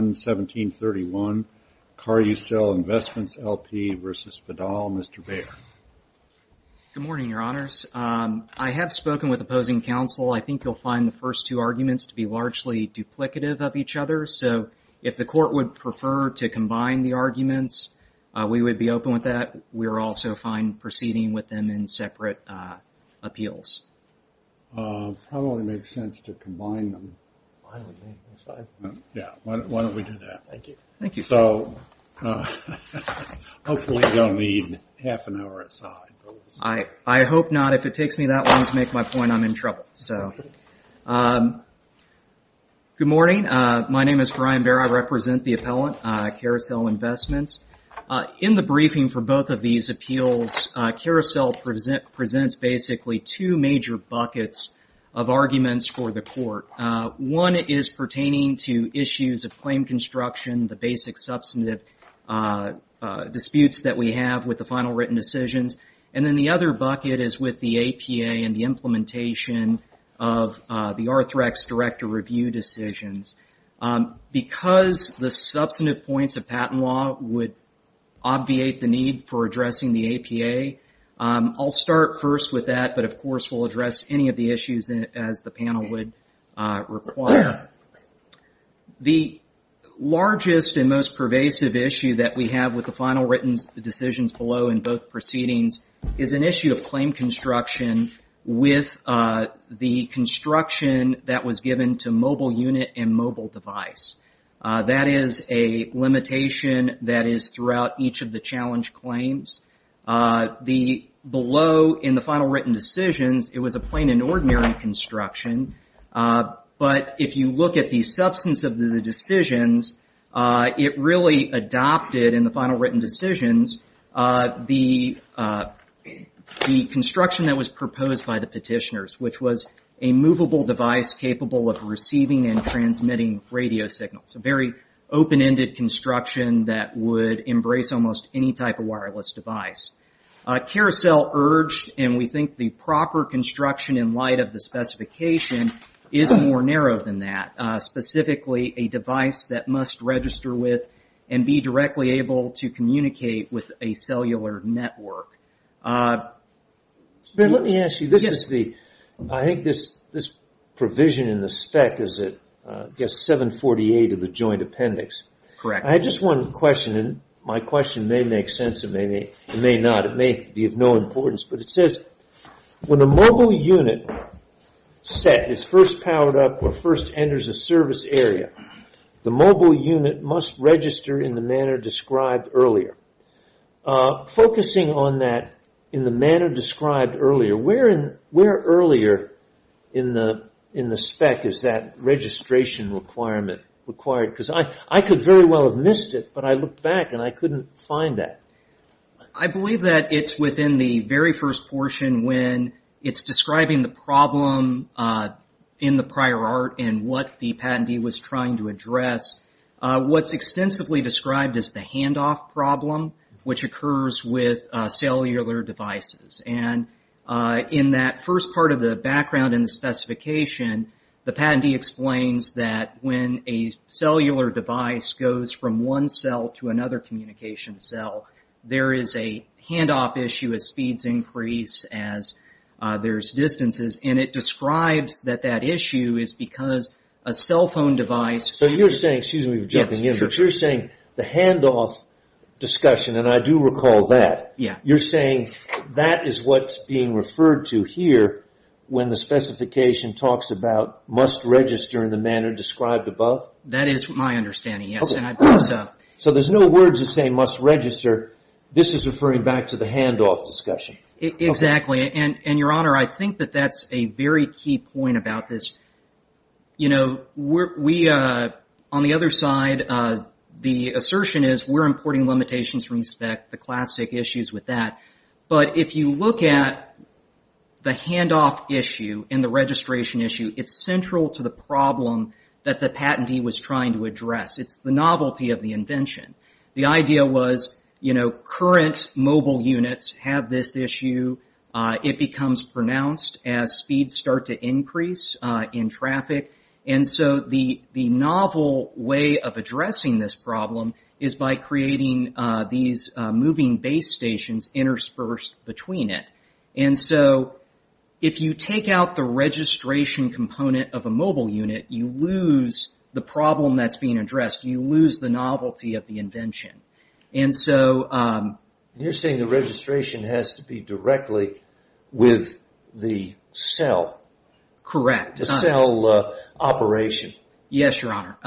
1731 Carucel Investments L.P. v. Vidal. Mr. Baer. Good morning, your honors. I have spoken with opposing counsel. I think you'll find the first two arguments to be largely duplicative of each other, so if the court would prefer to combine the arguments, we would be open with that. We're also fine proceeding with them in separate appeals. Probably makes sense to combine them. Why don't we do that? Thank you. Thank you. So hopefully you don't need half an hour aside. I hope not. If it takes me that long to make my point, I'm in trouble. Good morning. My name is Brian Baer. I represent the appellant, Carucel Investments. In the briefing for both of these appeals, Carucel presents basically two major buckets of arguments for the court. One is pertaining to issues of claim construction, the basic substantive disputes that we have with the final written decisions, and then the other bucket is with the APA and the implementation of the Arthrex director review decisions. Because the substantive points of patent law would obviate the need for addressing the APA. I'll start first with that, but of course we'll address any of the issues as the panel would require. The largest and most pervasive issue that we have with the final written decisions below in both proceedings is an issue of claim construction with the construction that was given to mobile unit and mobile device. That is a limitation that is throughout each of the challenge claims. Below in the final written decisions, it was a plain and ordinary construction, but if you look at the substance of the decisions, it really adopted in the final written decisions the construction that was proposed by the petitioners, which was a movable device capable of receiving and transmitting radio signals. A very open-ended construction that would embrace almost any type of wireless device. Carousel urged, and we think the proper construction in light of the specification is more narrow than that, specifically a device that must register with and be directly able to communicate with a cellular network. Ben, let me ask you. I think this provision in the spec is 748 of the joint appendix. I have just one question. My question may make sense, it may not. It may be of no importance, but it says, when a mobile unit set is first powered up or first enters a service area, the mobile unit must register in the manner described earlier. Focusing on that in the manner described earlier, where earlier in the spec is that registration requirement required? I could very well have missed it, but I looked back and I couldn't find that. I believe that it is within the very first portion when it is describing the problem in the prior art and what the patentee was trying to address. What is extensively described is the handoff problem, which occurs with cellular devices. In that first part of the background in the specification, the patentee explains that when a cellular device goes from one cell to another communication cell, there is a handoff issue as speeds increase, as there are distances. It describes that that issue is because a cell phone device... You are saying the handoff discussion, and I do recall that, you are saying that is what is being referred to here when the specification talks about must register in the manner described above? That is my understanding, yes. There are no words that say must register. This is referring back to the handoff discussion. Exactly. Your Honor, I think that is a very key point about this. On the other side, the assertion is we are importing limitations from the spec, the classic issues with that. If you look at the handoff issue and the registration issue, it is central to the problem that the novelty of the invention. The idea was current mobile units have this issue. It becomes pronounced as speeds start to increase in traffic. The novel way of addressing this problem is by creating these moving base stations interspersed between it. If you take out the registration component of a mobile unit, you lose the problem that is being addressed. You lose the novelty of the invention. You are saying the registration has to be directly with the cell? Correct. The cell operation? Yes, Your Honor.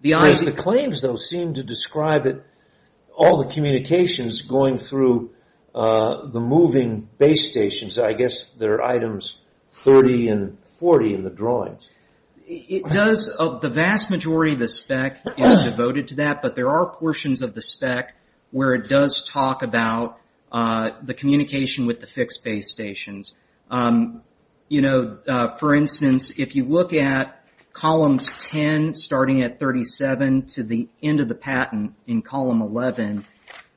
The claims, though, seem to describe all the communications going through the moving base stations. The vast majority of the spec is devoted to that, but there are portions of the spec where it does talk about the communication with the fixed base stations. For instance, if you look at columns 10 starting at 37 to the end of the patent in column 11,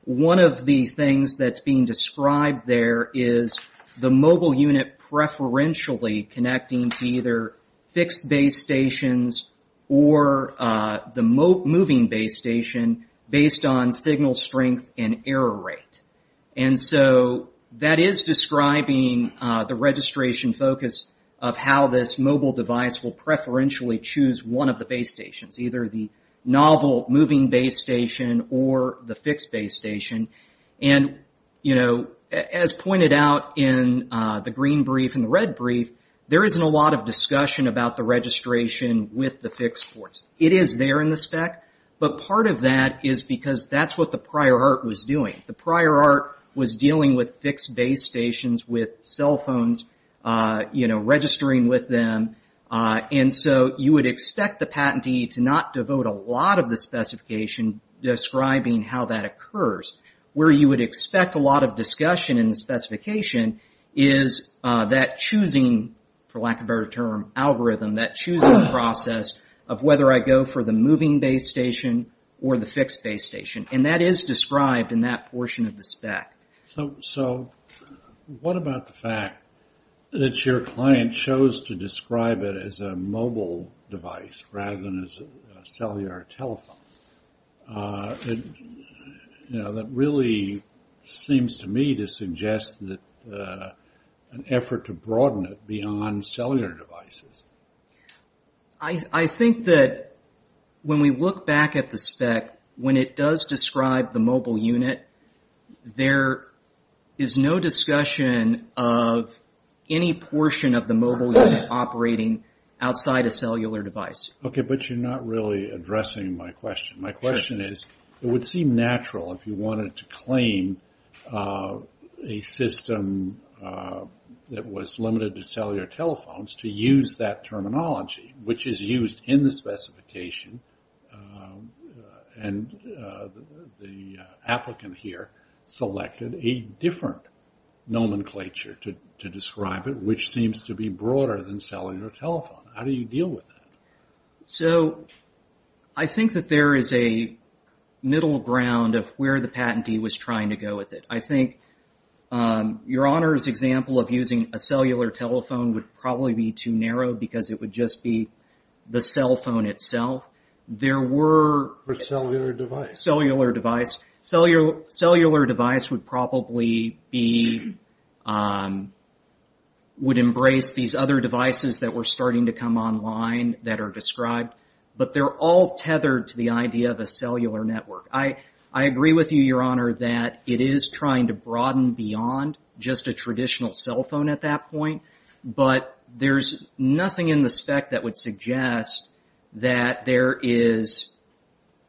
one of the things that is being described there is the mobile unit preferentially connecting to either fixed base stations or the moving base station based on signal strength and error rate. That is describing the registration focus of how this mobile device will preferentially choose one of the base stations, either the novel moving base station or the fixed base station. As pointed out in the green brief and the red brief, there isn't a lot of discussion about the registration with the fixed ports. It is there in the spec, but part of that is because that is what the prior art was doing. The prior art was dealing with fixed base stations with cell phones registering with them. You would expect the patentee to not devote a lot of the specification describing how that occurs. Where you would expect a lot of discussion in the specification is that choosing, for lack of a better term, algorithm, that choosing process of whether I go for the moving base station or the fixed base station. That is described in that portion of the spec. So what about the fact that your client chose to describe it as a mobile device rather than a cellular telephone? That really seems to me to suggest an effort to broaden it beyond cellular devices. I think that when we look back at the spec, when it does describe the mobile unit, there is no discussion of any portion of the mobile unit operating outside a cellular device. Okay, but you're not really addressing my question. My question is, it would seem natural if you wanted to claim a system that was limited to cellular telephones to use that terminology, which is used in the specification. And the applicant here selected a different nomenclature to describe it, which seems to be broader than cellular telephone. How do you deal with that? So I think that there is a middle ground of where the patentee was trying to go with it. I think your Honor's example of using a cellular telephone would probably be too narrow, because it would just be the cell phone itself. Or cellular device. Cellular device. Cellular device would probably be, would embrace these other devices that were starting to come online that are described. But they're all tethered to the idea of a cellular network. I agree with you, your Honor, that it is trying to broaden beyond just a traditional cell phone at that point. But there's nothing in the spec that would suggest that there is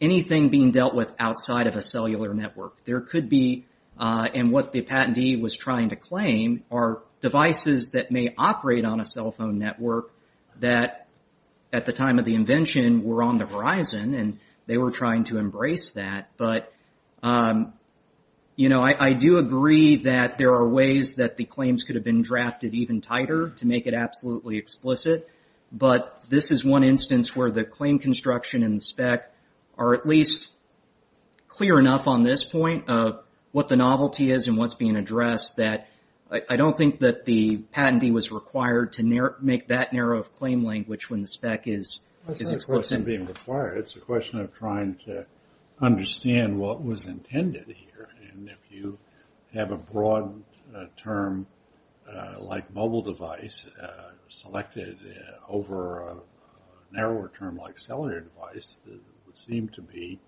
anything being dealt with outside of a cellular network. There could be, and what the patentee was trying to claim, are devices that may operate on a cell phone network that at the time of the invention were on the horizon, and they were trying to embrace that. But, you know, I do agree that there are ways that the claims could have been drafted even tighter to make it absolutely explicit. But this is one instance where the claim construction and the spec are at least clear enough on this point of what the novelty is and what's being addressed that I don't think that the patentee was required to make that narrow of claim language when the spec is explicit. It isn't being required. It's a question of trying to understand what was intended here. And if you have a broad term like mobile device selected over a narrower term like cellular device, it would seem to be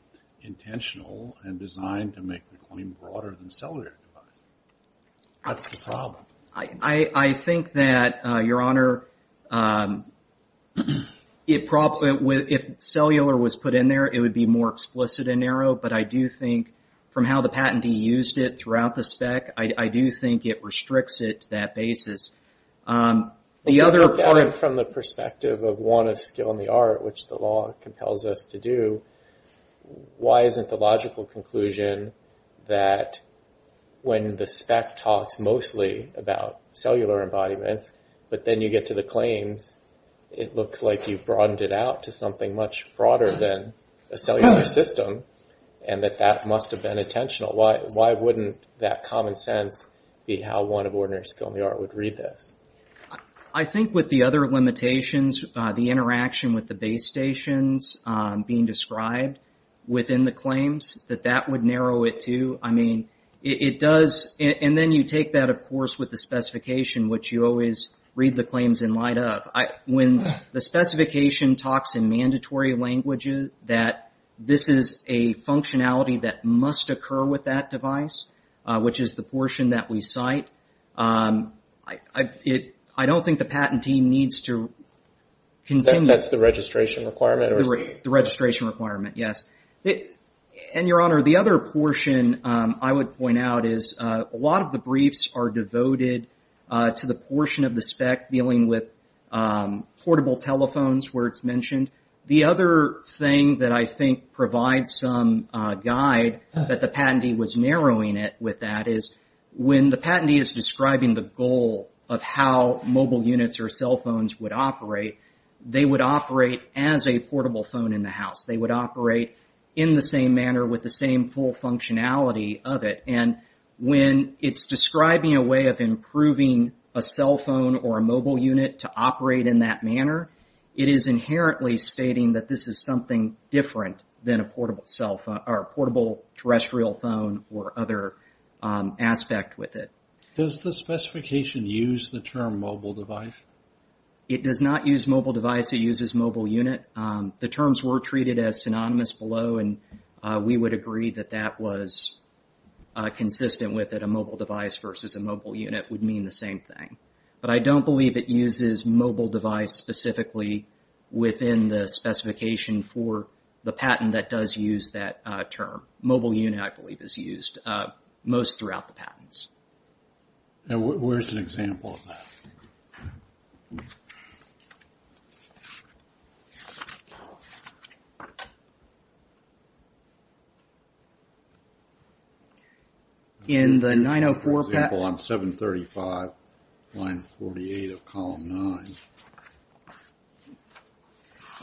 intentional and designed to make the claim broader than cellular device. That's the problem. I think that, Your Honor, if cellular was put in there, it would be more explicit and narrow. But I do think from how the patentee used it throughout the spec, I do think it restricts it to that basis. The other point from the perspective of want of skill in the art, which the law compels us to do, why isn't the logical conclusion that when the spec talks mostly about cellular embodiments, but then you get to the claims, it looks like you've broadened it out to something much broader than a cellular system and that that must have been intentional. Why wouldn't that common sense be how want of ordinary skill in the art would read this? I think with the other limitations, the interaction with the base stations being described within the claims, that that would narrow it, too. I mean, it does. And then you take that, of course, with the specification, which you always read the claims in light of. When the specification talks in mandatory languages that this is a functionality that must occur with that device, which is the portion that we cite, I don't think the patentee needs to continue. That's the registration requirement? The registration requirement, yes. And, Your Honor, the other portion I would point out is a lot of the briefs are devoted to the portion of the spec dealing with portable telephones where it's mentioned. The other thing that I think provides some guide that the patentee was narrowing it with that is, when the patentee is describing the goal of how mobile units or cell phones would operate, they would operate as a portable phone in the house. They would operate in the same manner with the same full functionality of it. And when it's describing a way of improving a cell phone or a mobile unit to operate in that manner, it is inherently stating that this is something different than a portable cell phone or a portable terrestrial phone or other aspect with it. Does the specification use the term mobile device? It does not use mobile device. It uses mobile unit. The terms were treated as synonymous below, and we would agree that that was consistent with it. A mobile device versus a mobile unit would mean the same thing. But I don't believe it uses mobile device specifically within the specification for the patent that does use that term. Mobile unit, I believe, is used most throughout the patents. Where's an example of that? In the 904 patent... For example, on 735, line 48 of column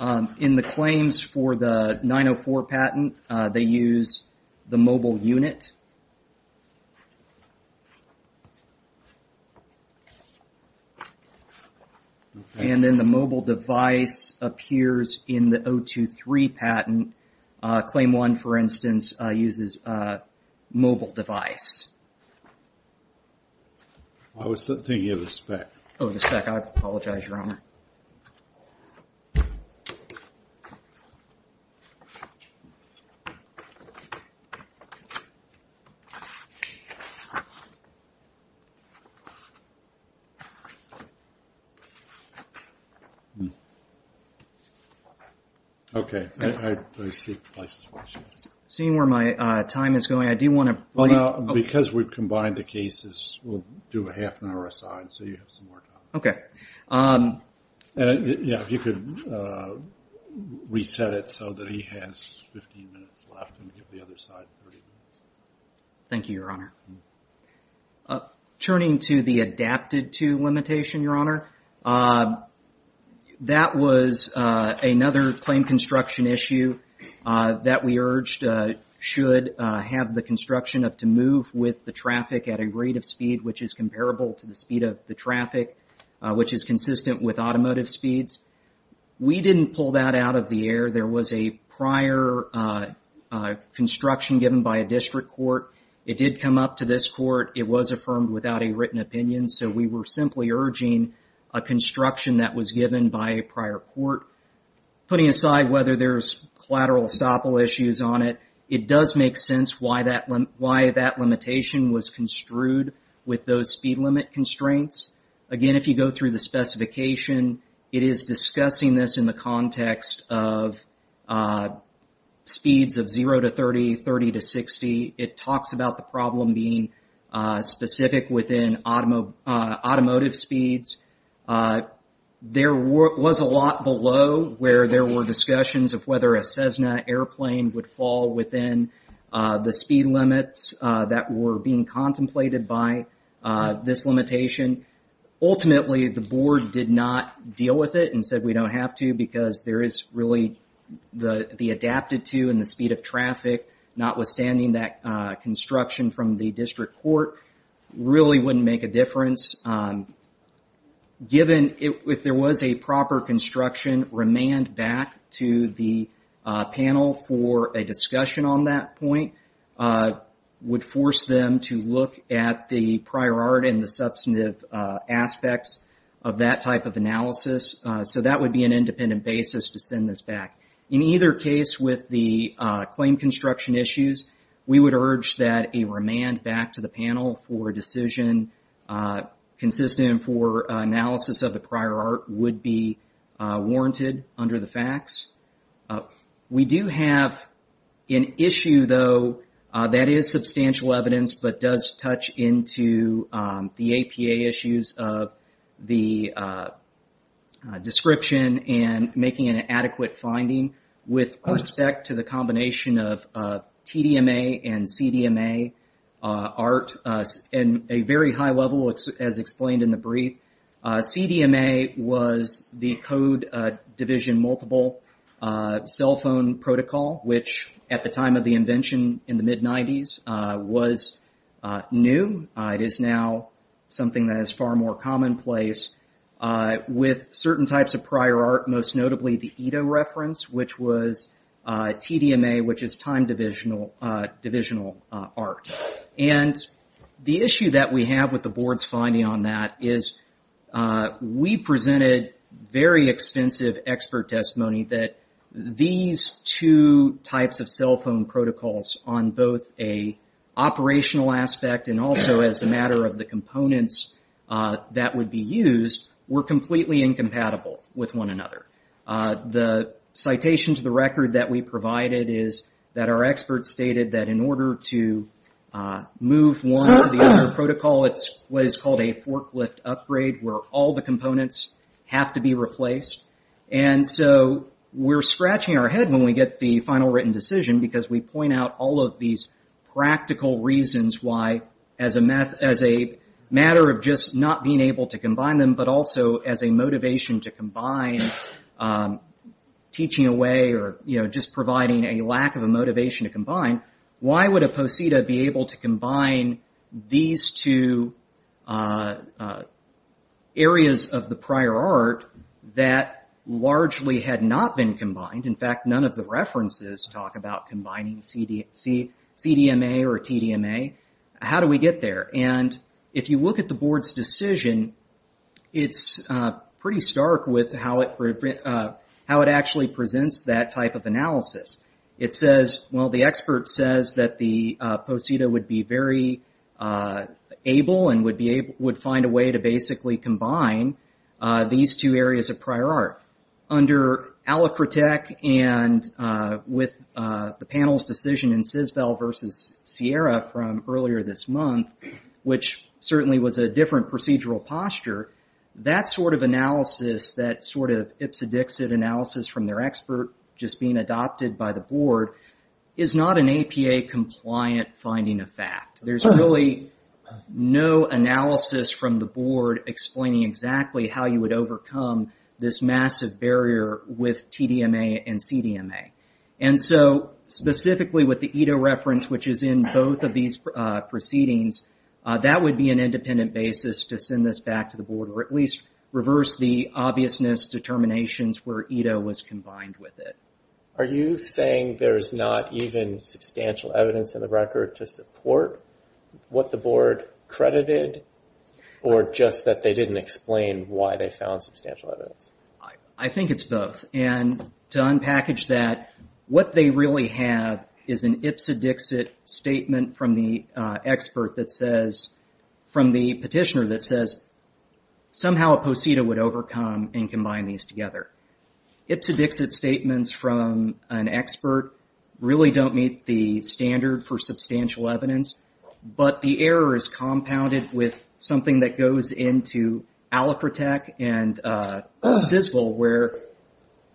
9. In the claims for the 904 patent, they use the mobile unit. And then the mobile device appears in the 023 patent. Claim 1, for instance, uses mobile device. I was thinking of the spec. Oh, the spec. I apologize, Your Honor. Okay. Seeing where my time is going, I do want to... Because we've combined the cases, we'll do a half an hour aside so you have some more time. Okay. Yeah, if you could reset it so that he has 15 minutes left and give the other side 30 minutes. Thank you, Your Honor. Turning to the adapted-to limitation, Your Honor, that was another claim construction issue that we urged should have the construction of to move with the traffic at a rate of speed which is comparable to the speed of the traffic, which is consistent with automotive speeds. We didn't pull that out of the air. There was a prior construction given by a district court. It did come up to this court. It was affirmed without a written opinion. So we were simply urging a construction that was given by a prior court. Putting aside whether there's collateral estoppel issues on it, it does make sense why that limitation was construed with those speed limit constraints. Again, if you go through the specification, it is discussing this in the context of speeds of 0 to 30, 30 to 60. It talks about the problem being specific within automotive speeds. There was a lot below where there were discussions of whether a Cessna airplane would fall within the speed limits that were being contemplated by this limitation. Ultimately, the board did not deal with it and said we don't have to because there is really the adapted-to and the speed of traffic, notwithstanding that construction from the district court, really wouldn't make a difference. Given if there was a proper construction, remand back to the panel for a discussion on that point would force them to look at the prior art and the substantive aspects of that type of analysis. So that would be an independent basis to send this back. In either case, with the claim construction issues, we would urge that a remand back to the panel for a decision consistent for analysis of the prior art would be warranted under the facts. We do have an issue, though, that is substantial evidence but does touch into the APA issues of the description and making an adequate finding with respect to the combination of TDMA and CDMA art in a very high level, as explained in the brief. CDMA was the code division multiple cell phone protocol, which at the time of the invention in the mid-'90s was new. It is now something that is far more commonplace. With certain types of prior art, most notably the ETO reference, which was TDMA, which is time divisional art. The issue that we have with the board's finding on that is we presented very extensive expert testimony that these two types of cell phone protocols on both an operational aspect and also as a matter of the components that would be used were completely incompatible with one another. The citation to the record that we provided is that our experts stated that in order to move one to the other protocol, it's what is called a forklift upgrade, where all the components have to be replaced. We're scratching our head when we get the final written decision, because we point out all of these practical reasons why, as a matter of just not being able to combine them, but also as a motivation to combine teaching away, or just providing a lack of a motivation to combine, why would a POSITA be able to combine these two areas of the prior art that largely had not been combined? In fact, none of the references talk about combining CDMA or TDMA. How do we get there? And if you look at the board's decision, it's pretty stark with how it actually presents that type of analysis. It says, well, the expert says that the POSITA would be very able and would find a way to basically combine these two areas of prior art. Under Alacrotec and with the panel's decision in Sisvell versus Sierra from earlier this month, which certainly was a different procedural posture, that sort of analysis, that sort of ipsedixit analysis from their expert just being adopted by the board, is not an APA-compliant finding of fact. There's really no analysis from the board explaining exactly how you would overcome this massive barrier with TDMA and CDMA. And so specifically with the EDA reference, which is in both of these proceedings, that would be an independent basis to send this back to the board or at least reverse the obviousness determinations where EDA was combined with it. Are you saying there's not even substantial evidence in the record to support what the board credited or just that they didn't explain why they found substantial evidence? I think it's both. And to unpackage that, what they really have is an ipsedixit statement from the expert that says, from the petitioner that says, somehow a POSITA would overcome and combine these together. Ipsedixit statements from an expert really don't meet the standard for substantial evidence, but the error is compounded with something that goes into Alacrotec and CISVL where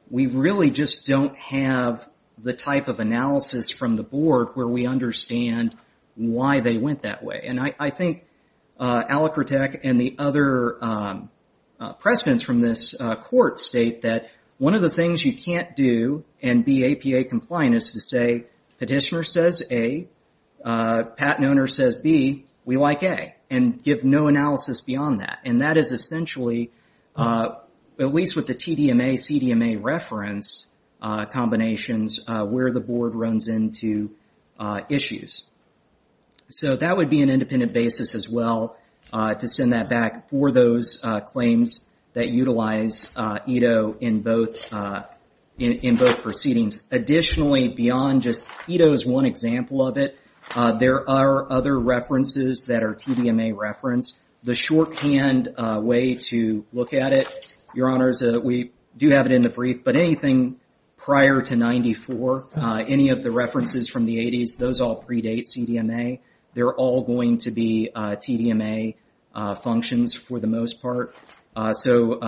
we really just don't have the type of analysis from the board where we understand why they went that way. And I think Alacrotec and the other precedents from this court state that one of the things you can't do and be APA compliant is to say, petitioner says A, patent owner says B, we like A, and give no analysis beyond that. And that is essentially, at least with the TDMA, CDMA reference combinations, where the board runs into issues. So that would be an independent basis as well to send that back for those claims that utilize ETO in both proceedings. Additionally, beyond just ETO as one example of it, there are other references that are TDMA reference. The shorthand way to look at it, Your Honors, we do have it in the brief, but anything prior to 94, any of the references from the 80s, those all predate CDMA. They're all going to be TDMA functions for the most part. So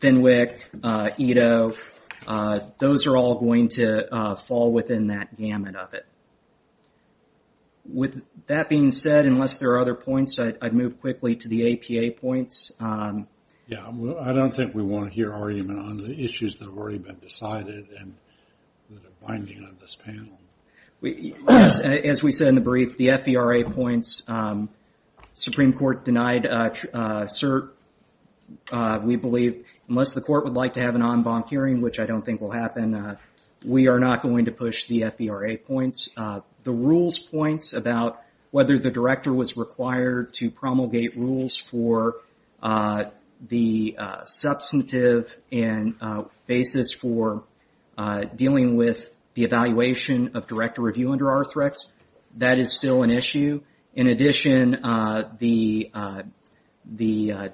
FinWIC, ETO, those are all going to fall within that gamut of it. With that being said, unless there are other points, I'd move quickly to the APA points. Yeah, I don't think we want to hear argument on the issues that have already been decided and that are binding on this panel. As we said in the brief, the FVRA points, Supreme Court denied cert. We believe unless the court would like to have an en banc hearing, which I don't think will happen, we are not going to push the FVRA points. The rules points about whether the director was required to promulgate rules for the substantive and basis for dealing with the evaluation of director review under Arthrex, that is still an issue. In addition, the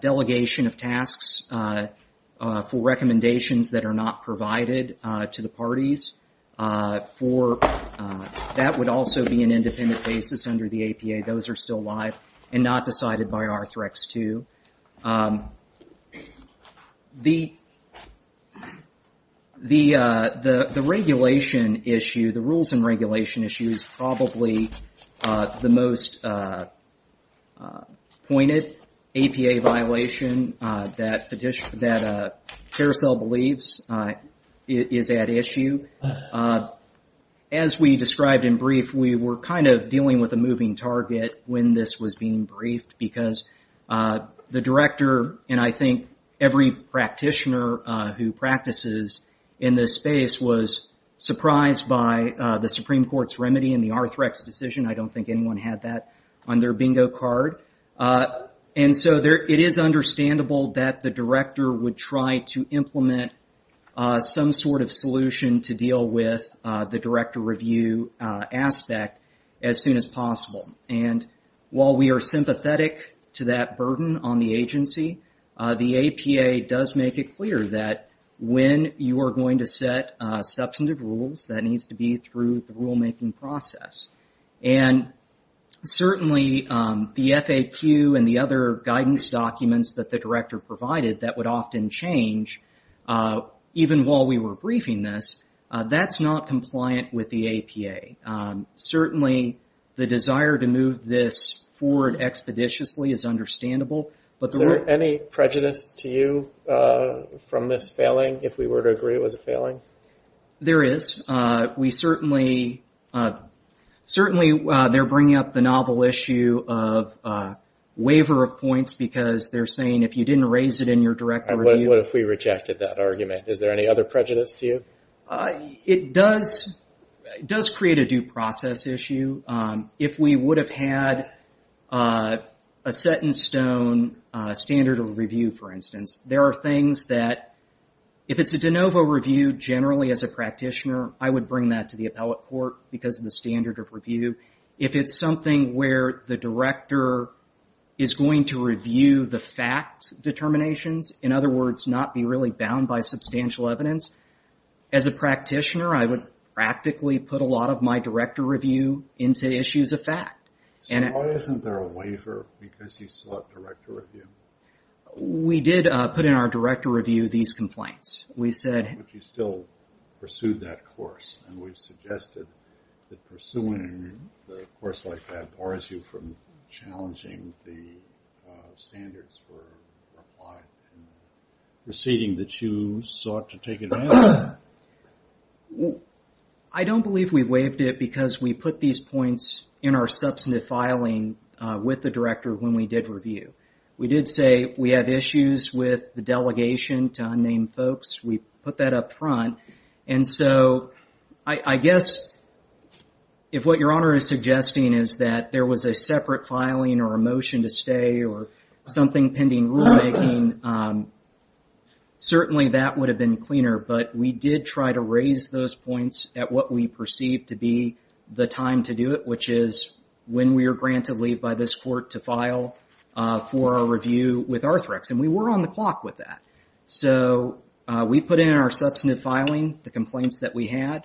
delegation of tasks for recommendations that are not provided to the parties for that would also be an independent basis under the APA. Those are still live and not decided by Arthrex II. The regulation issue, the rules and regulation issue is probably the most pointed APA violation that Carousel believes is at issue. As we described in brief, we were dealing with a moving target when this was being briefed because the director, and I think every practitioner who practices in this space, was surprised by the Supreme Court's remedy in the Arthrex decision. I don't think anyone had that on their bingo card. It is understandable that the director would try to implement some sort of solution to deal with the director review aspect as soon as possible. While we are sympathetic to that burden on the agency, the APA does make it clear that when you are going to set substantive rules, that needs to be through the rulemaking process. Certainly, the FAQ and the other guidance documents that the director provided that would often change, even while we were briefing this, that is not compliant with the APA. Certainly, the desire to move this forward expeditiously is understandable. Is there any prejudice to you from this failing, if we were to agree it was a failing? There is. Certainly, they're bringing up the novel issue of waiver of points because they're saying if you didn't raise it in your direct review... What if we rejected that argument? Is there any other prejudice to you? It does create a due process issue. If we would have had a set-in-stone standard of review, for instance, there are things that, if it's a de novo review, generally, as a practitioner, I would bring that to the appellate court because of the standard of review. If it's something where the director is going to review the fact determinations, in other words, not be really bound by substantial evidence, as a practitioner, I would practically put a lot of my director review into issues of fact. Why isn't there a waiver because you select director review? We did put in our director review these complaints. Would you still pursue that course? We've suggested that pursuing a course like that bars you from challenging the standards for applying and proceeding that you sought to take advantage of. I don't believe we waived it because we put these points in our substantive filing with the director when we did review. We did say we have issues with the delegation to unnamed folks. We put that up front. I guess if what Your Honor is suggesting is that there was a separate filing or a motion to stay or something pending rulemaking, certainly that would have been cleaner, but we did try to raise those points at what we perceived to be the time to do it, which is when we are granted leave by this court to file for a review with Arthrex. We were on the clock with that. We put in our substantive filing, the complaints that we had,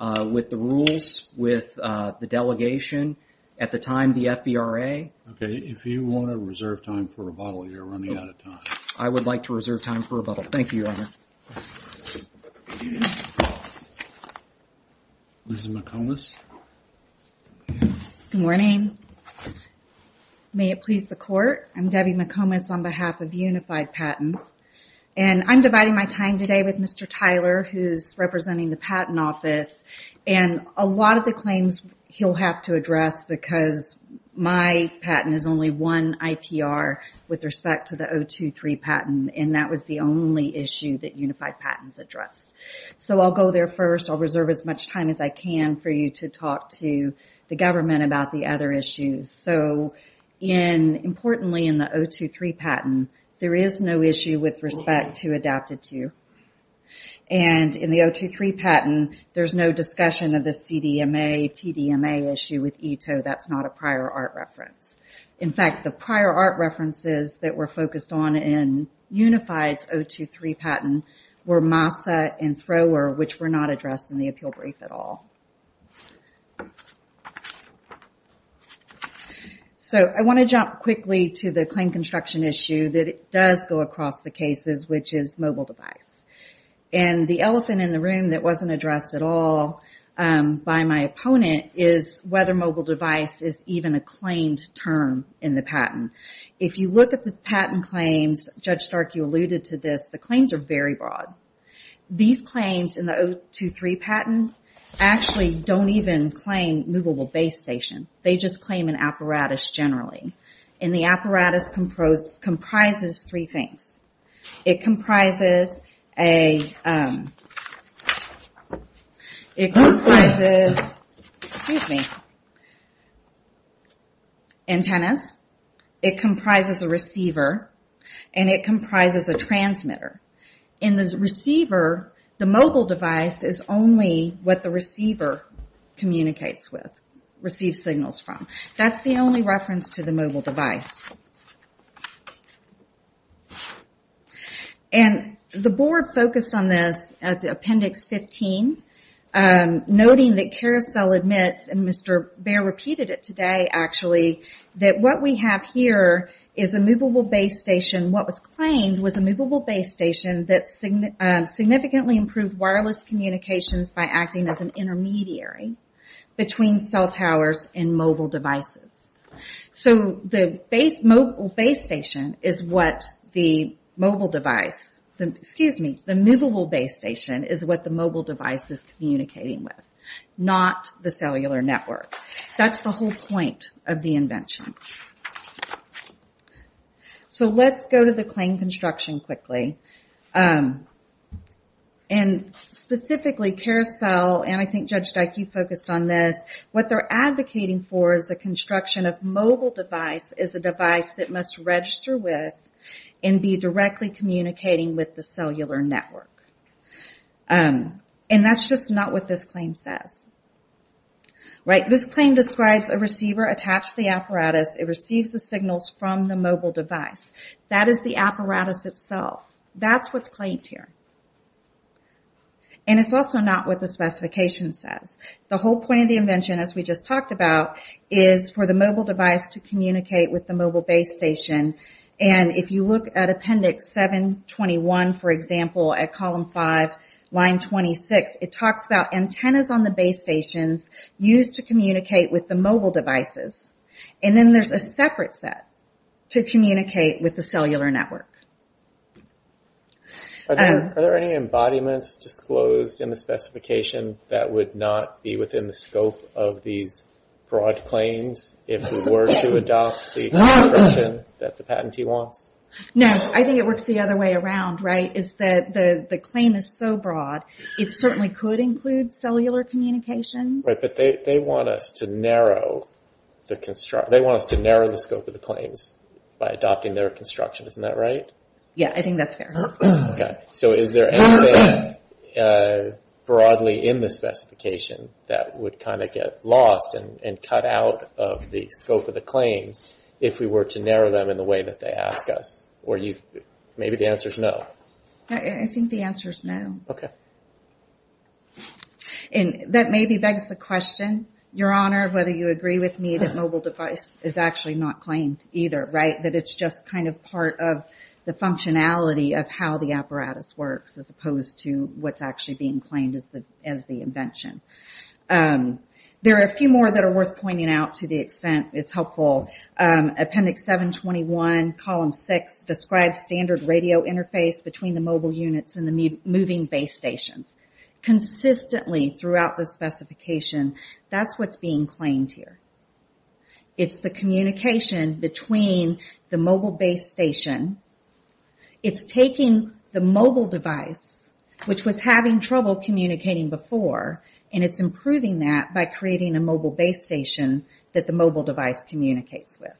with the rules, with the delegation, at the time the FVRA. If you want to reserve time for rebuttal, you're running out of time. I would like to reserve time for rebuttal. Thank you, Your Honor. Ms. McComas? Good morning. May it please the court, I'm Debbie McComas on behalf of Unified Patent. I'm dividing my time today with Mr. Tyler, who's representing the patent office. A lot of the claims he'll have to address because my patent is only one IPR with respect to the 023 patent, and that was the only issue that Unified Patent addressed. I'll go there first. I'll reserve as much time as I can for you to talk to the government about the other issues. Importantly, in the 023 patent, there is no issue with respect to adapted to. In the 023 patent, there's no discussion of the CDMA, TDMA issue with ITO. That's not a prior art reference. In fact, the prior art references that were focused on in Unified's 023 patent were MASA and Thrower, which were not addressed in the appeal brief at all. I want to jump quickly to the claim construction issue that does go across the cases, which is mobile device. The elephant in the room that wasn't addressed at all by my opponent is whether mobile device is even a claimed term in the patent. If you look at the patent claims, Judge Stark, you alluded to this, the claims are very broad. These claims in the 023 patent actually don't even claim movable base station. They just claim an apparatus generally. The apparatus comprises three things. It comprises antennas, it comprises a receiver, and it comprises a transmitter. In the receiver, the mobile device is only what the receiver communicates with, receives signals from. That's the only reference to the mobile device. The board focused on this at Appendix 15, noting that Carousel admits, and Mr. Baer repeated it today actually, that what we have here is a movable base station. What was claimed was a movable base station that significantly improved wireless communications by acting as an intermediary between cell towers and mobile devices. The mobile base station is what the mobile device, excuse me, the movable base station is what the mobile device is communicating with, not the cellular network. That's the whole point of the invention. Let's go to the claim construction quickly. Specifically, Carousel, and I think Judge Stark, you focused on this, what they're advocating for is the construction of mobile device as a device that must register with and be directly communicating with the cellular network. That's just not what this claim says. This claim describes a receiver attached to the apparatus. It receives the signals from the mobile device. That is the apparatus itself. That's what's claimed here. It's also not what the specification says. The whole point of the invention, as we just talked about, is for the mobile device to communicate with the mobile base station. If you look at appendix 721, for example, at column 5, line 26, it talks about antennas on the base stations used to communicate with the mobile devices. Then there's a separate set to communicate with the cellular network. Are there any embodiments disclosed in the specification that would not be within the scope of these broad claims if we were to adopt the construction that the patentee wants? No. I think it works the other way around. The claim is so broad, it certainly could include cellular communication. They want us to narrow the scope of the claims by adopting their construction. Isn't that right? Yeah, I think that's fair. Is there anything broadly in the specification that would get lost and cut out of the scope of the claims if we were to narrow them in the way that they ask us? Maybe the answer is no. I think the answer is no. That maybe begs the question, Your Honor, whether you agree with me that mobile device is actually not claimed either, right? That it's just kind of part of the functionality of how the apparatus works as opposed to what's actually being claimed as the invention. There are a few more that are worth pointing out to the extent it's helpful. Appendix 721, column 6, describes standard radio interface between the mobile units and the moving base stations. Consistently throughout the specification, that's what's being claimed here. It's the communication between the mobile base station. It's taking the mobile device, which was having trouble communicating before, and it's improving that by creating a mobile base station that the mobile device communicates with.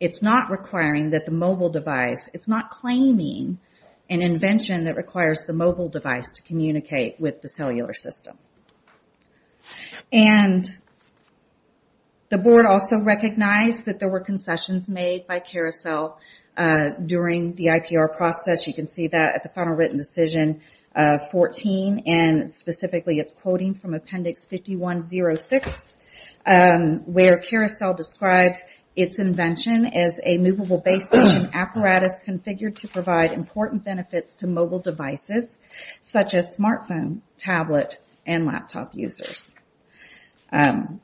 It's not requiring that the mobile device... It's not claiming an invention that requires the mobile device to communicate with the cellular system. And the board also recognized that there were concessions made by Carousel during the IPR process. You can see that at the final written decision, 14, and specifically it's quoting from appendix 5106, where Carousel describes its invention as a movable base station apparatus configured to provide important benefits to mobile devices, such as smartphone, tablet, and laptop users. And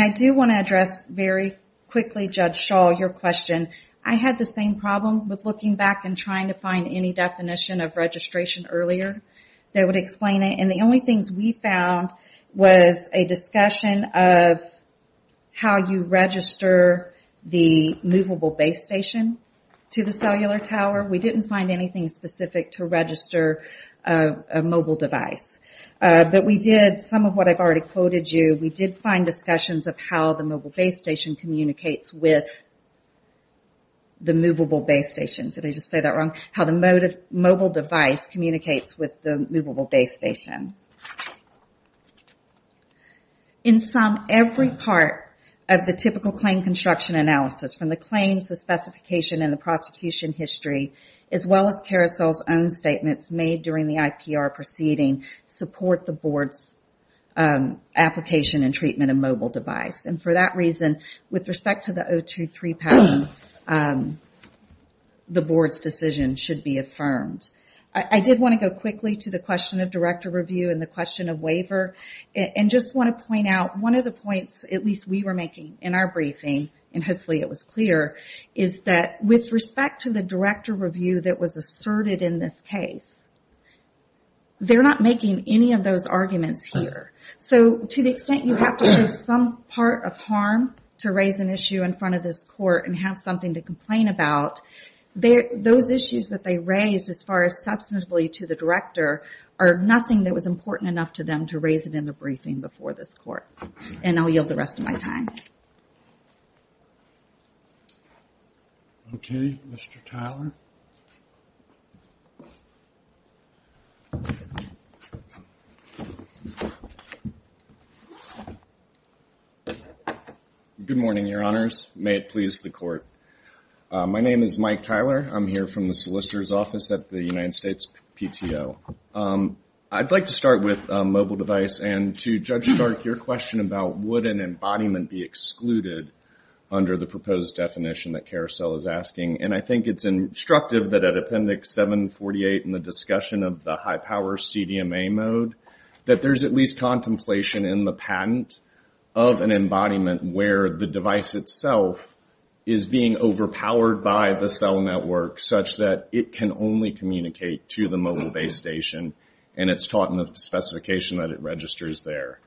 I do want to address very quickly, Judge Shaw, your question. I had the same problem with looking back and trying to find any definition of registration earlier that would explain it, and the only things we found was a discussion of how you register the movable base station to the cellular tower. We didn't find anything specific to register a mobile device. But we did, some of what I've already quoted you, we did find discussions of how the mobile base station communicates with the movable base station. Did I just say that wrong? How the mobile device communicates with the movable base station. In sum, every part of the typical claim construction analysis, from the claims, the specification, and the prosecution history, as well as Carousel's own statements made during the IPR proceeding, support the board's application and treatment of mobile device. And for that reason, with respect to the 023 pattern, the board's decision should be affirmed. I did want to go quickly to the question of director review and the question of waiver, and just want to point out, one of the points, at least we were making in our briefing, and hopefully it was clear, is that with respect to the director review that was asserted in this case, they're not making any of those arguments here. So to the extent you have to show some part of harm to raise an issue in front of this court and have something to complain about, those issues that they raised, as far as substantively to the director, are nothing that was important enough to them to raise it in the briefing before this court. And I'll yield the rest of my time. Okay, Mr. Tyler. Good morning, Your Honors. May it please the court. My name is Mike Tyler. I'm here from the solicitor's office at the United States PTO. I'd like to start with mobile device, and to Judge Stark, your question about would an embodiment be excluded under the proposed definition that Carousel is asking, and I think it's instructive that at Appendix 748 in the discussion of the high-power CDMA mode, that there's at least contemplation in the patent of an embodiment where the device itself is being overpowered by the cell network such that it can only communicate to the mobile base station, and it's taught in the specification that it registers there.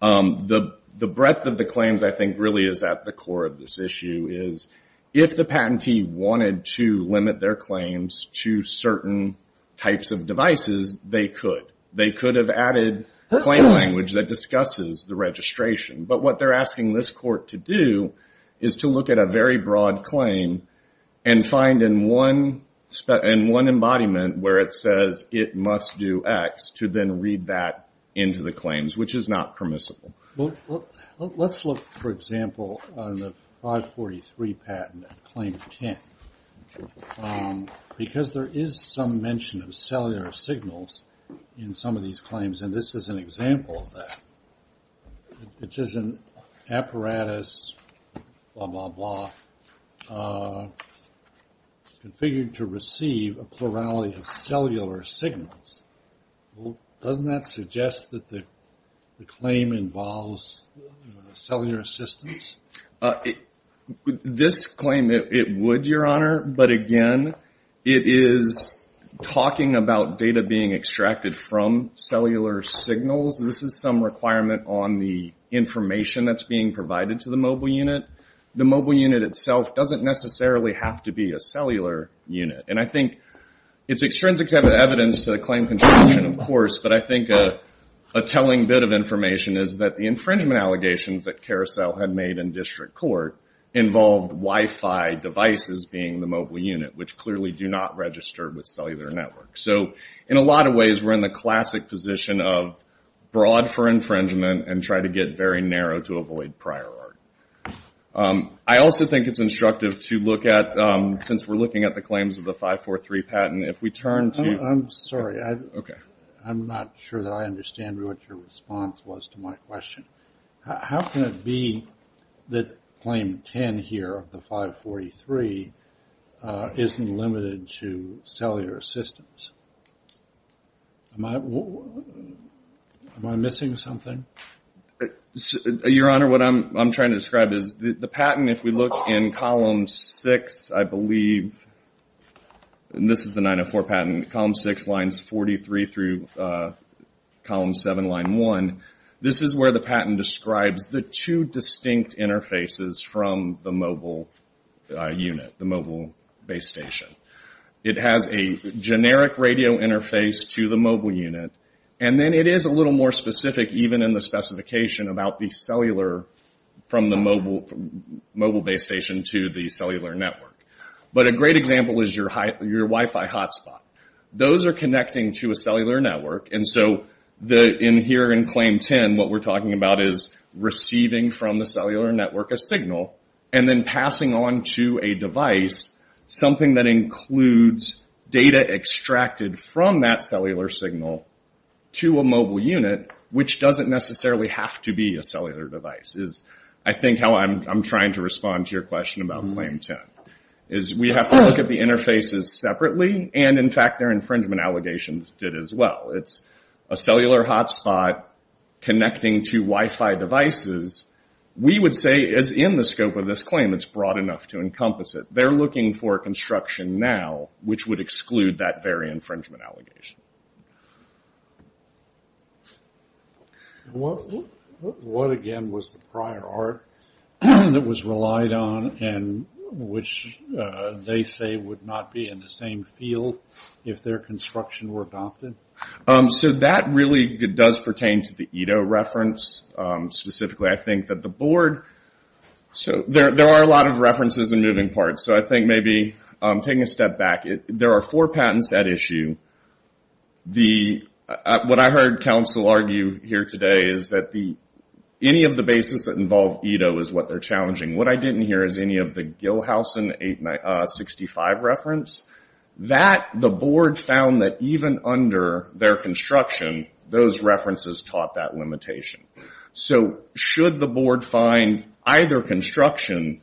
The breadth of the claims, I think, really is at the core of this issue, is if the patentee wanted to limit their claims to certain types of devices, they could. They could have added claim language that discusses the registration, but what they're asking this court to do is to look at a very broad claim and find in one embodiment where it says it must do X to then read that into the claims, which is not permissible. Let's look, for example, on the 543 patent, Claim 10, because there is some mention of cellular signals in some of these claims, and this is an example of that. It says an apparatus, blah, blah, blah, configured to receive a plurality of cellular signals. Doesn't that suggest that the claim involves cellular systems? This claim, it would, Your Honor, but again, it is talking about data being extracted from cellular signals. This is some requirement on the information that's being provided to the mobile unit. The mobile unit itself doesn't necessarily have to be a cellular unit, and I think it's extrinsic evidence to the claim construction, of course, but I think a telling bit of information is that the infringement allegations that Carousel had made in district court involved Wi-Fi devices being the mobile unit, which clearly do not register with cellular networks. In a lot of ways, we're in the classic position of broad for infringement and try to get very narrow to avoid prior art. I also think it's instructive to look at, since we're looking at the claims of the 543 patent, if we turn to... I'm sorry. Okay. I'm not sure that I understand what your response was to my question. How can it be that claim 10 here of the 543 isn't limited to cellular systems? Am I... Am I missing something? Your Honor, what I'm trying to describe is the patent, if we look in column 6, I believe, and this is the 904 patent, column 6, lines 43 through column 7, line 1, this is where the patent describes the two distinct interfaces from the mobile unit, the mobile base station. It has a generic radio interface to the mobile unit, and then it is a little more specific, even in the specification about the cellular, from the mobile base station to the cellular network. But a great example is your Wi-Fi hotspot. Those are connecting to a cellular network, and so in here in claim 10, what we're talking about is receiving from the cellular network a signal and then passing on to a device something that includes data extracted from that cellular signal to a mobile unit, which doesn't necessarily have to be a cellular device, is I think how I'm trying to respond to your question about claim 10, is we have to look at the interfaces separately, and in fact their infringement allegations did as well. It's a cellular hotspot connecting to Wi-Fi devices, we would say is in the scope of this claim. It's broad enough to encompass it. They're looking for construction now, which would exclude that very infringement allegation. What again was the prior art that was relied on and which they say would not be in the same field if their construction were adopted? That really does pertain to the Edo reference. Specifically I think that the board, there are a lot of references in moving parts, so I think maybe taking a step back, there are four patents at issue. What I heard counsel argue here today is that any of the bases that involve Edo is what they're challenging. What I didn't hear is any of the Gilhausen 865 reference. The board found that even under their construction, those references taught that limitation. Should the board find either construction,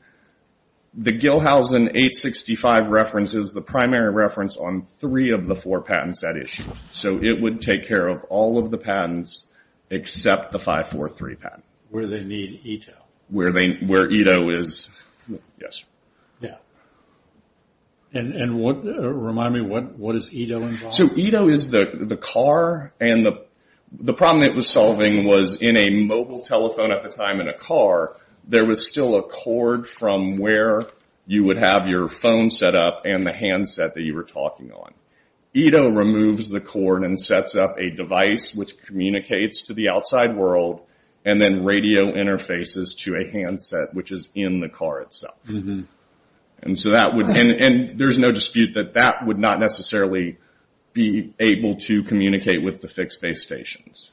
the Gilhausen 865 reference is the primary reference on three of the four patents at issue. It would take care of all of the patents except the 543 patent. Where they need Edo. Remind me, what is Edo involved in? Edo is the car, and the problem it was solving was in a mobile telephone at the time in a car, there was still a cord from where you would have your phone set up and the handset that you were talking on. Edo removes the cord and sets up a device which communicates to the outside world and then radio interfaces to a handset which is in the car itself. There's no dispute that that would not necessarily be able to communicate with the fixed base stations.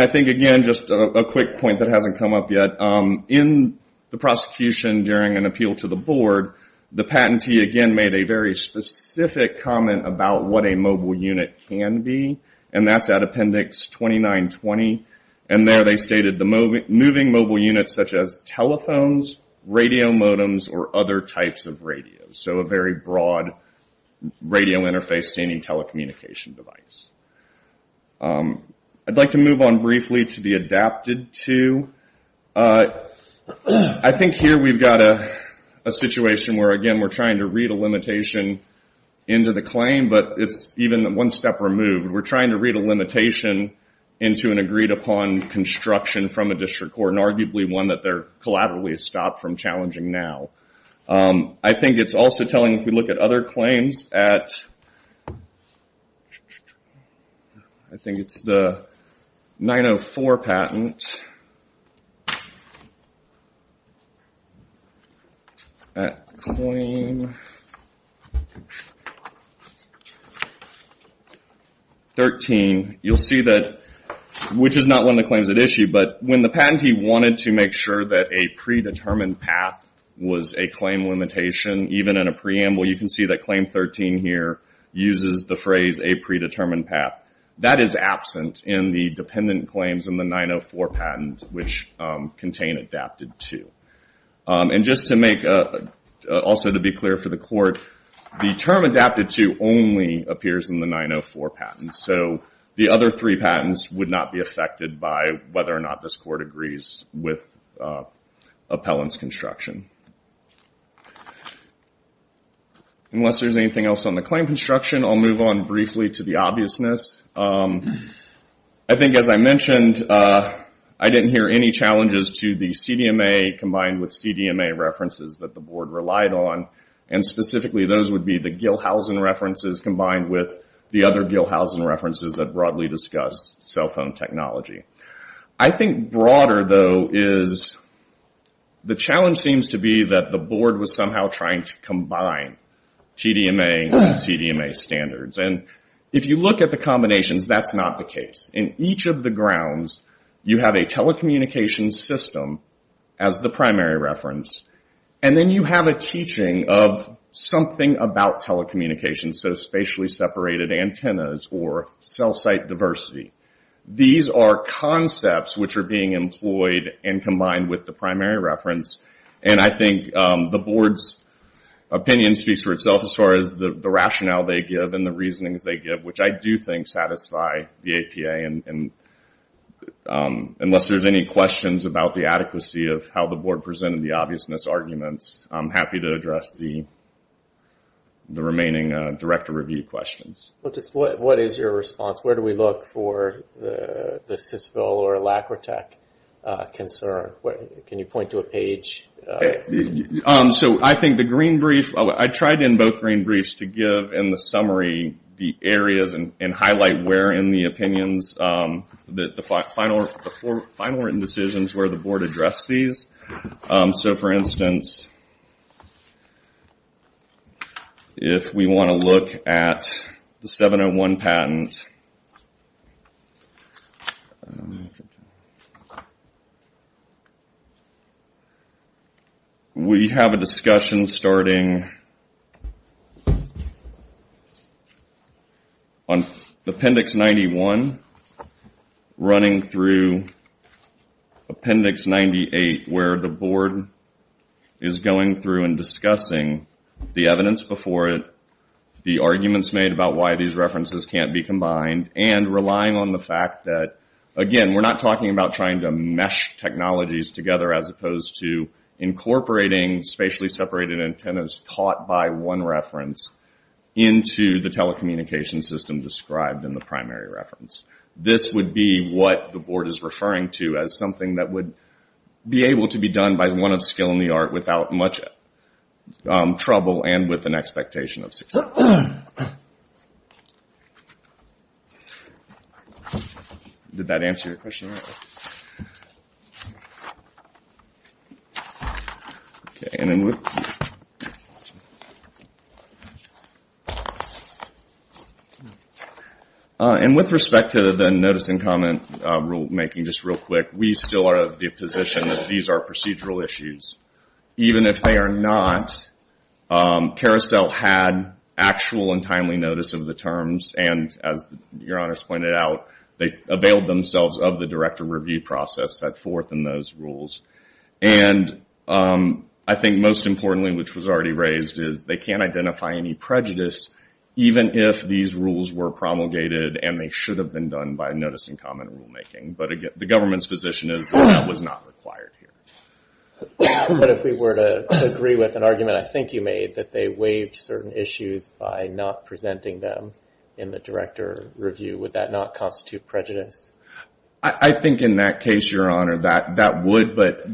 I think again, just a quick point that hasn't come up yet. In the prosecution during an appeal to the board, the patentee again made a very specific comment about what a mobile unit can be. That's at appendix 2920. There they stated moving mobile units such as telephones, radio modems, or other types of radios. So a very broad radio interface to any telecommunication device. I'd like to move on briefly to the adapted to. I think here we've got a situation where again, we're trying to read a limitation into the claim but it's even one step removed. We're trying to read a limitation into an agreed upon construction from a district court and arguably one that they're collaboratively stopped from challenging now. I think it's also telling if we look at other claims. I think it's the 904 patent. 13, you'll see that, which is not one of the claims at issue, but when the patentee wanted to make sure that a predetermined path was a claim limitation even in a preamble, you can see that claim 13 here uses the phrase a predetermined path. That is absent in the dependent claims in the 904 patent which contain adapted to. Also to be clear for the court, the term adapted to only appears in the 904 patent. So the other three patents would not be affected by whether or not this court agrees with appellant's construction. Unless there's anything else on the claim construction, I'll move on briefly to the obviousness. I think as I mentioned, I didn't hear any challenges to the CDMA combined with CDMA references that the board relied on and specifically those would be the Gilhausen references combined with the other Gilhausen references that broadly discuss cell phone technology. I think broader though is the challenge seems to be that the board was somehow trying to combine TDMA and CDMA standards. And if you look at the combinations, that's not the case. In each of the grounds, you have a telecommunications system as the primary reference and then you have a teaching of something about telecommunications, so spatially separated antennas or cell site diversity. These are concepts which are being employed and combined with the primary reference and I think the board's opinion speaks for itself as far as the rationale they give and the reasonings they give, which I do think satisfy the APA. Unless there's any questions about the adequacy of how the board presented the obviousness arguments, I'm happy to address the remaining director review questions. What is your response? Where do we look for the SysVil or Lacrotec concern? Can you point to a page? So I think the green brief, I tried in both green briefs to give in the summary the areas and highlight where in the opinions the final written decisions where the board addressed these. So for instance, if we want to look at the 701 patent, we have a discussion starting on appendix 91 running through appendix 98 where the board is going through and discussing the evidence before it, the arguments made about why these references can't be combined, and relying on the fact that, again, we're not talking about trying to mesh technologies together as opposed to incorporating spatially separated antennas caught by one reference into the telecommunication system described in the primary reference. This would be what the board is referring to as something that would be able to be done by one of skill in the art without much trouble and with an expectation of success. Did that answer your question? And with respect to the notice and comment rulemaking, just real quick, we still are of the position that these are procedural issues. Even if they are not, Carousel had actual and timely notice of the terms, and as your honors pointed out, they availed themselves of the director review process set forth in those rules. And I think most importantly, which was already raised, is they can't identify any prejudice even if these rules were promulgated and they should have been done by notice and comment rulemaking. But again, the government's position is that was not required here. But if we were to agree with an argument I think you made that they waived certain issues by not presenting them in the director review, would that not constitute prejudice? I think in that case, your honor, that would, but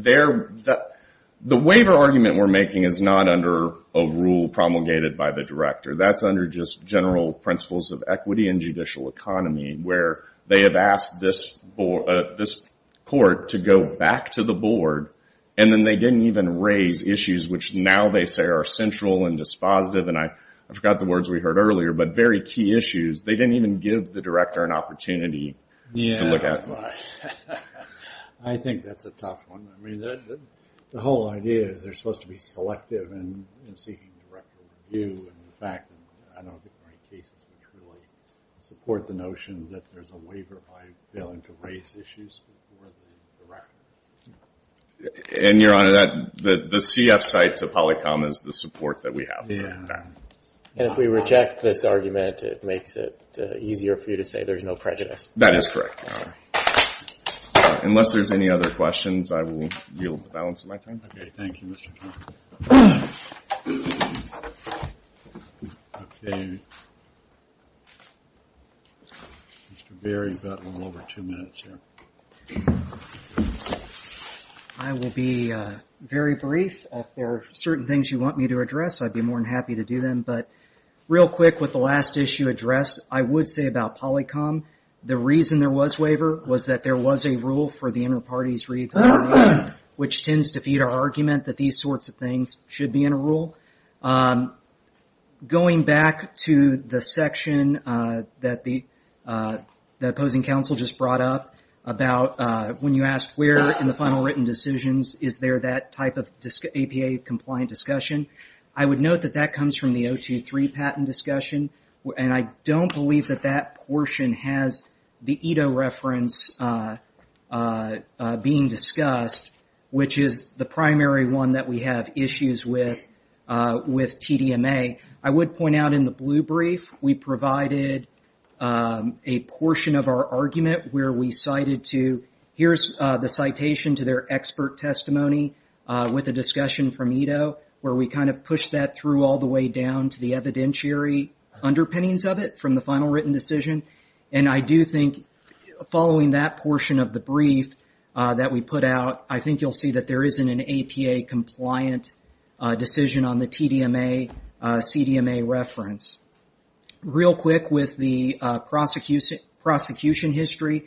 the waiver argument we're making is not under a rule promulgated by the director. That's under just general principles of equity and judicial economy where they have asked this court to go back to the board and then they didn't even raise issues which now they say are central and dispositive and I forgot the words we heard earlier, but very key issues. They didn't even give the director an opportunity to look at it. I think that's a tough one. I mean, the whole idea is they're supposed to be selective in seeking director review. In fact, I don't think there are any cases that truly support the notion that there's a waiver by failing to raise issues before the director. And your honor, the CF side to Polycom is the support that we have for that. And if we reject this argument, it makes it easier for you to say there's no prejudice. That is correct, your honor. Unless there's any other questions, I will yield the balance of my time. Okay, thank you, Mr. Trump. Okay. Mr. Berry's got a little over two minutes here. I will be very brief. If there are certain things you want me to address, I'd be more than happy to do them, but real quick with the last issue addressed, I would say about Polycom, the reason there was waiver was that there was a rule for the inter-parties re-examination which tends to feed our argument that these sorts of things should be in a rule. Going back to the section that the opposing counsel just brought up about when you ask, where in the final written decisions is there that type of APA-compliant discussion, I would note that that comes from the 023 patent discussion, and I don't believe that that portion has the ETO reference being discussed, which is the primary one that we have issues with TDMA. I would point out in the blue brief, we provided a portion of our argument where we cited to, here's the citation to their expert testimony with a discussion from ETO where we kind of pushed that through all the way down to the evidentiary underpinnings of it from the final written decision, and I do think following that portion of the brief that we put out, I think you'll see that there isn't an APA-compliant decision on the TDMA, CDMA reference. Real quick with the prosecution history,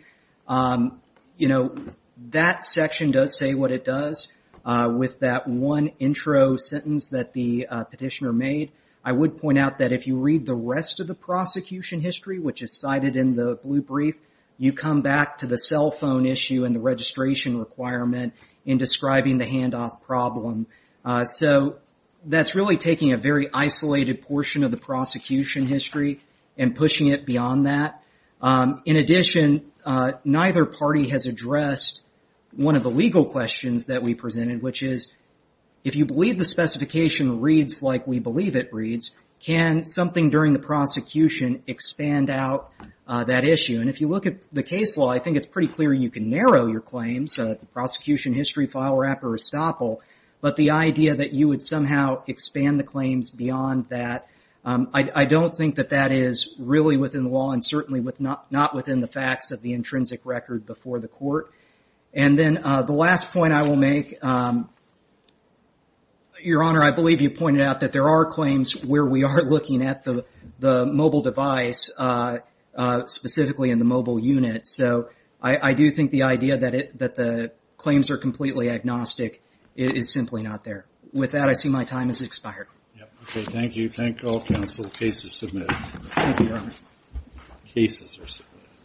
that section does say what it does with that one intro sentence that the petitioner made. I would point out that if you read the rest of the prosecution history, which is cited in the blue brief, you come back to the cell phone issue and the registration requirement in describing the handoff problem. So that's really taking a very isolated portion of the prosecution history and pushing it beyond that. In addition, neither party has addressed one of the legal questions that we presented, which is if you believe the specification reads like we believe it reads, can something during the prosecution expand out that issue? And if you look at the case law, I think it's pretty clear you can narrow your claims, the prosecution history, file wrap, or estoppel, but the idea that you would somehow expand the claims beyond that, I don't think that that is really within the law and certainly not within the facts of the intrinsic record before the court. And then the last point I will make, Your Honor, I believe you pointed out that there are claims where we are looking at the mobile device, specifically in the mobile unit, so I do think the idea that the claims are completely agnostic is simply not there. With that, I see my time has expired. Okay, thank you. Thank all counsel. Case is submitted. Thank you, Your Honor. Cases are submitted.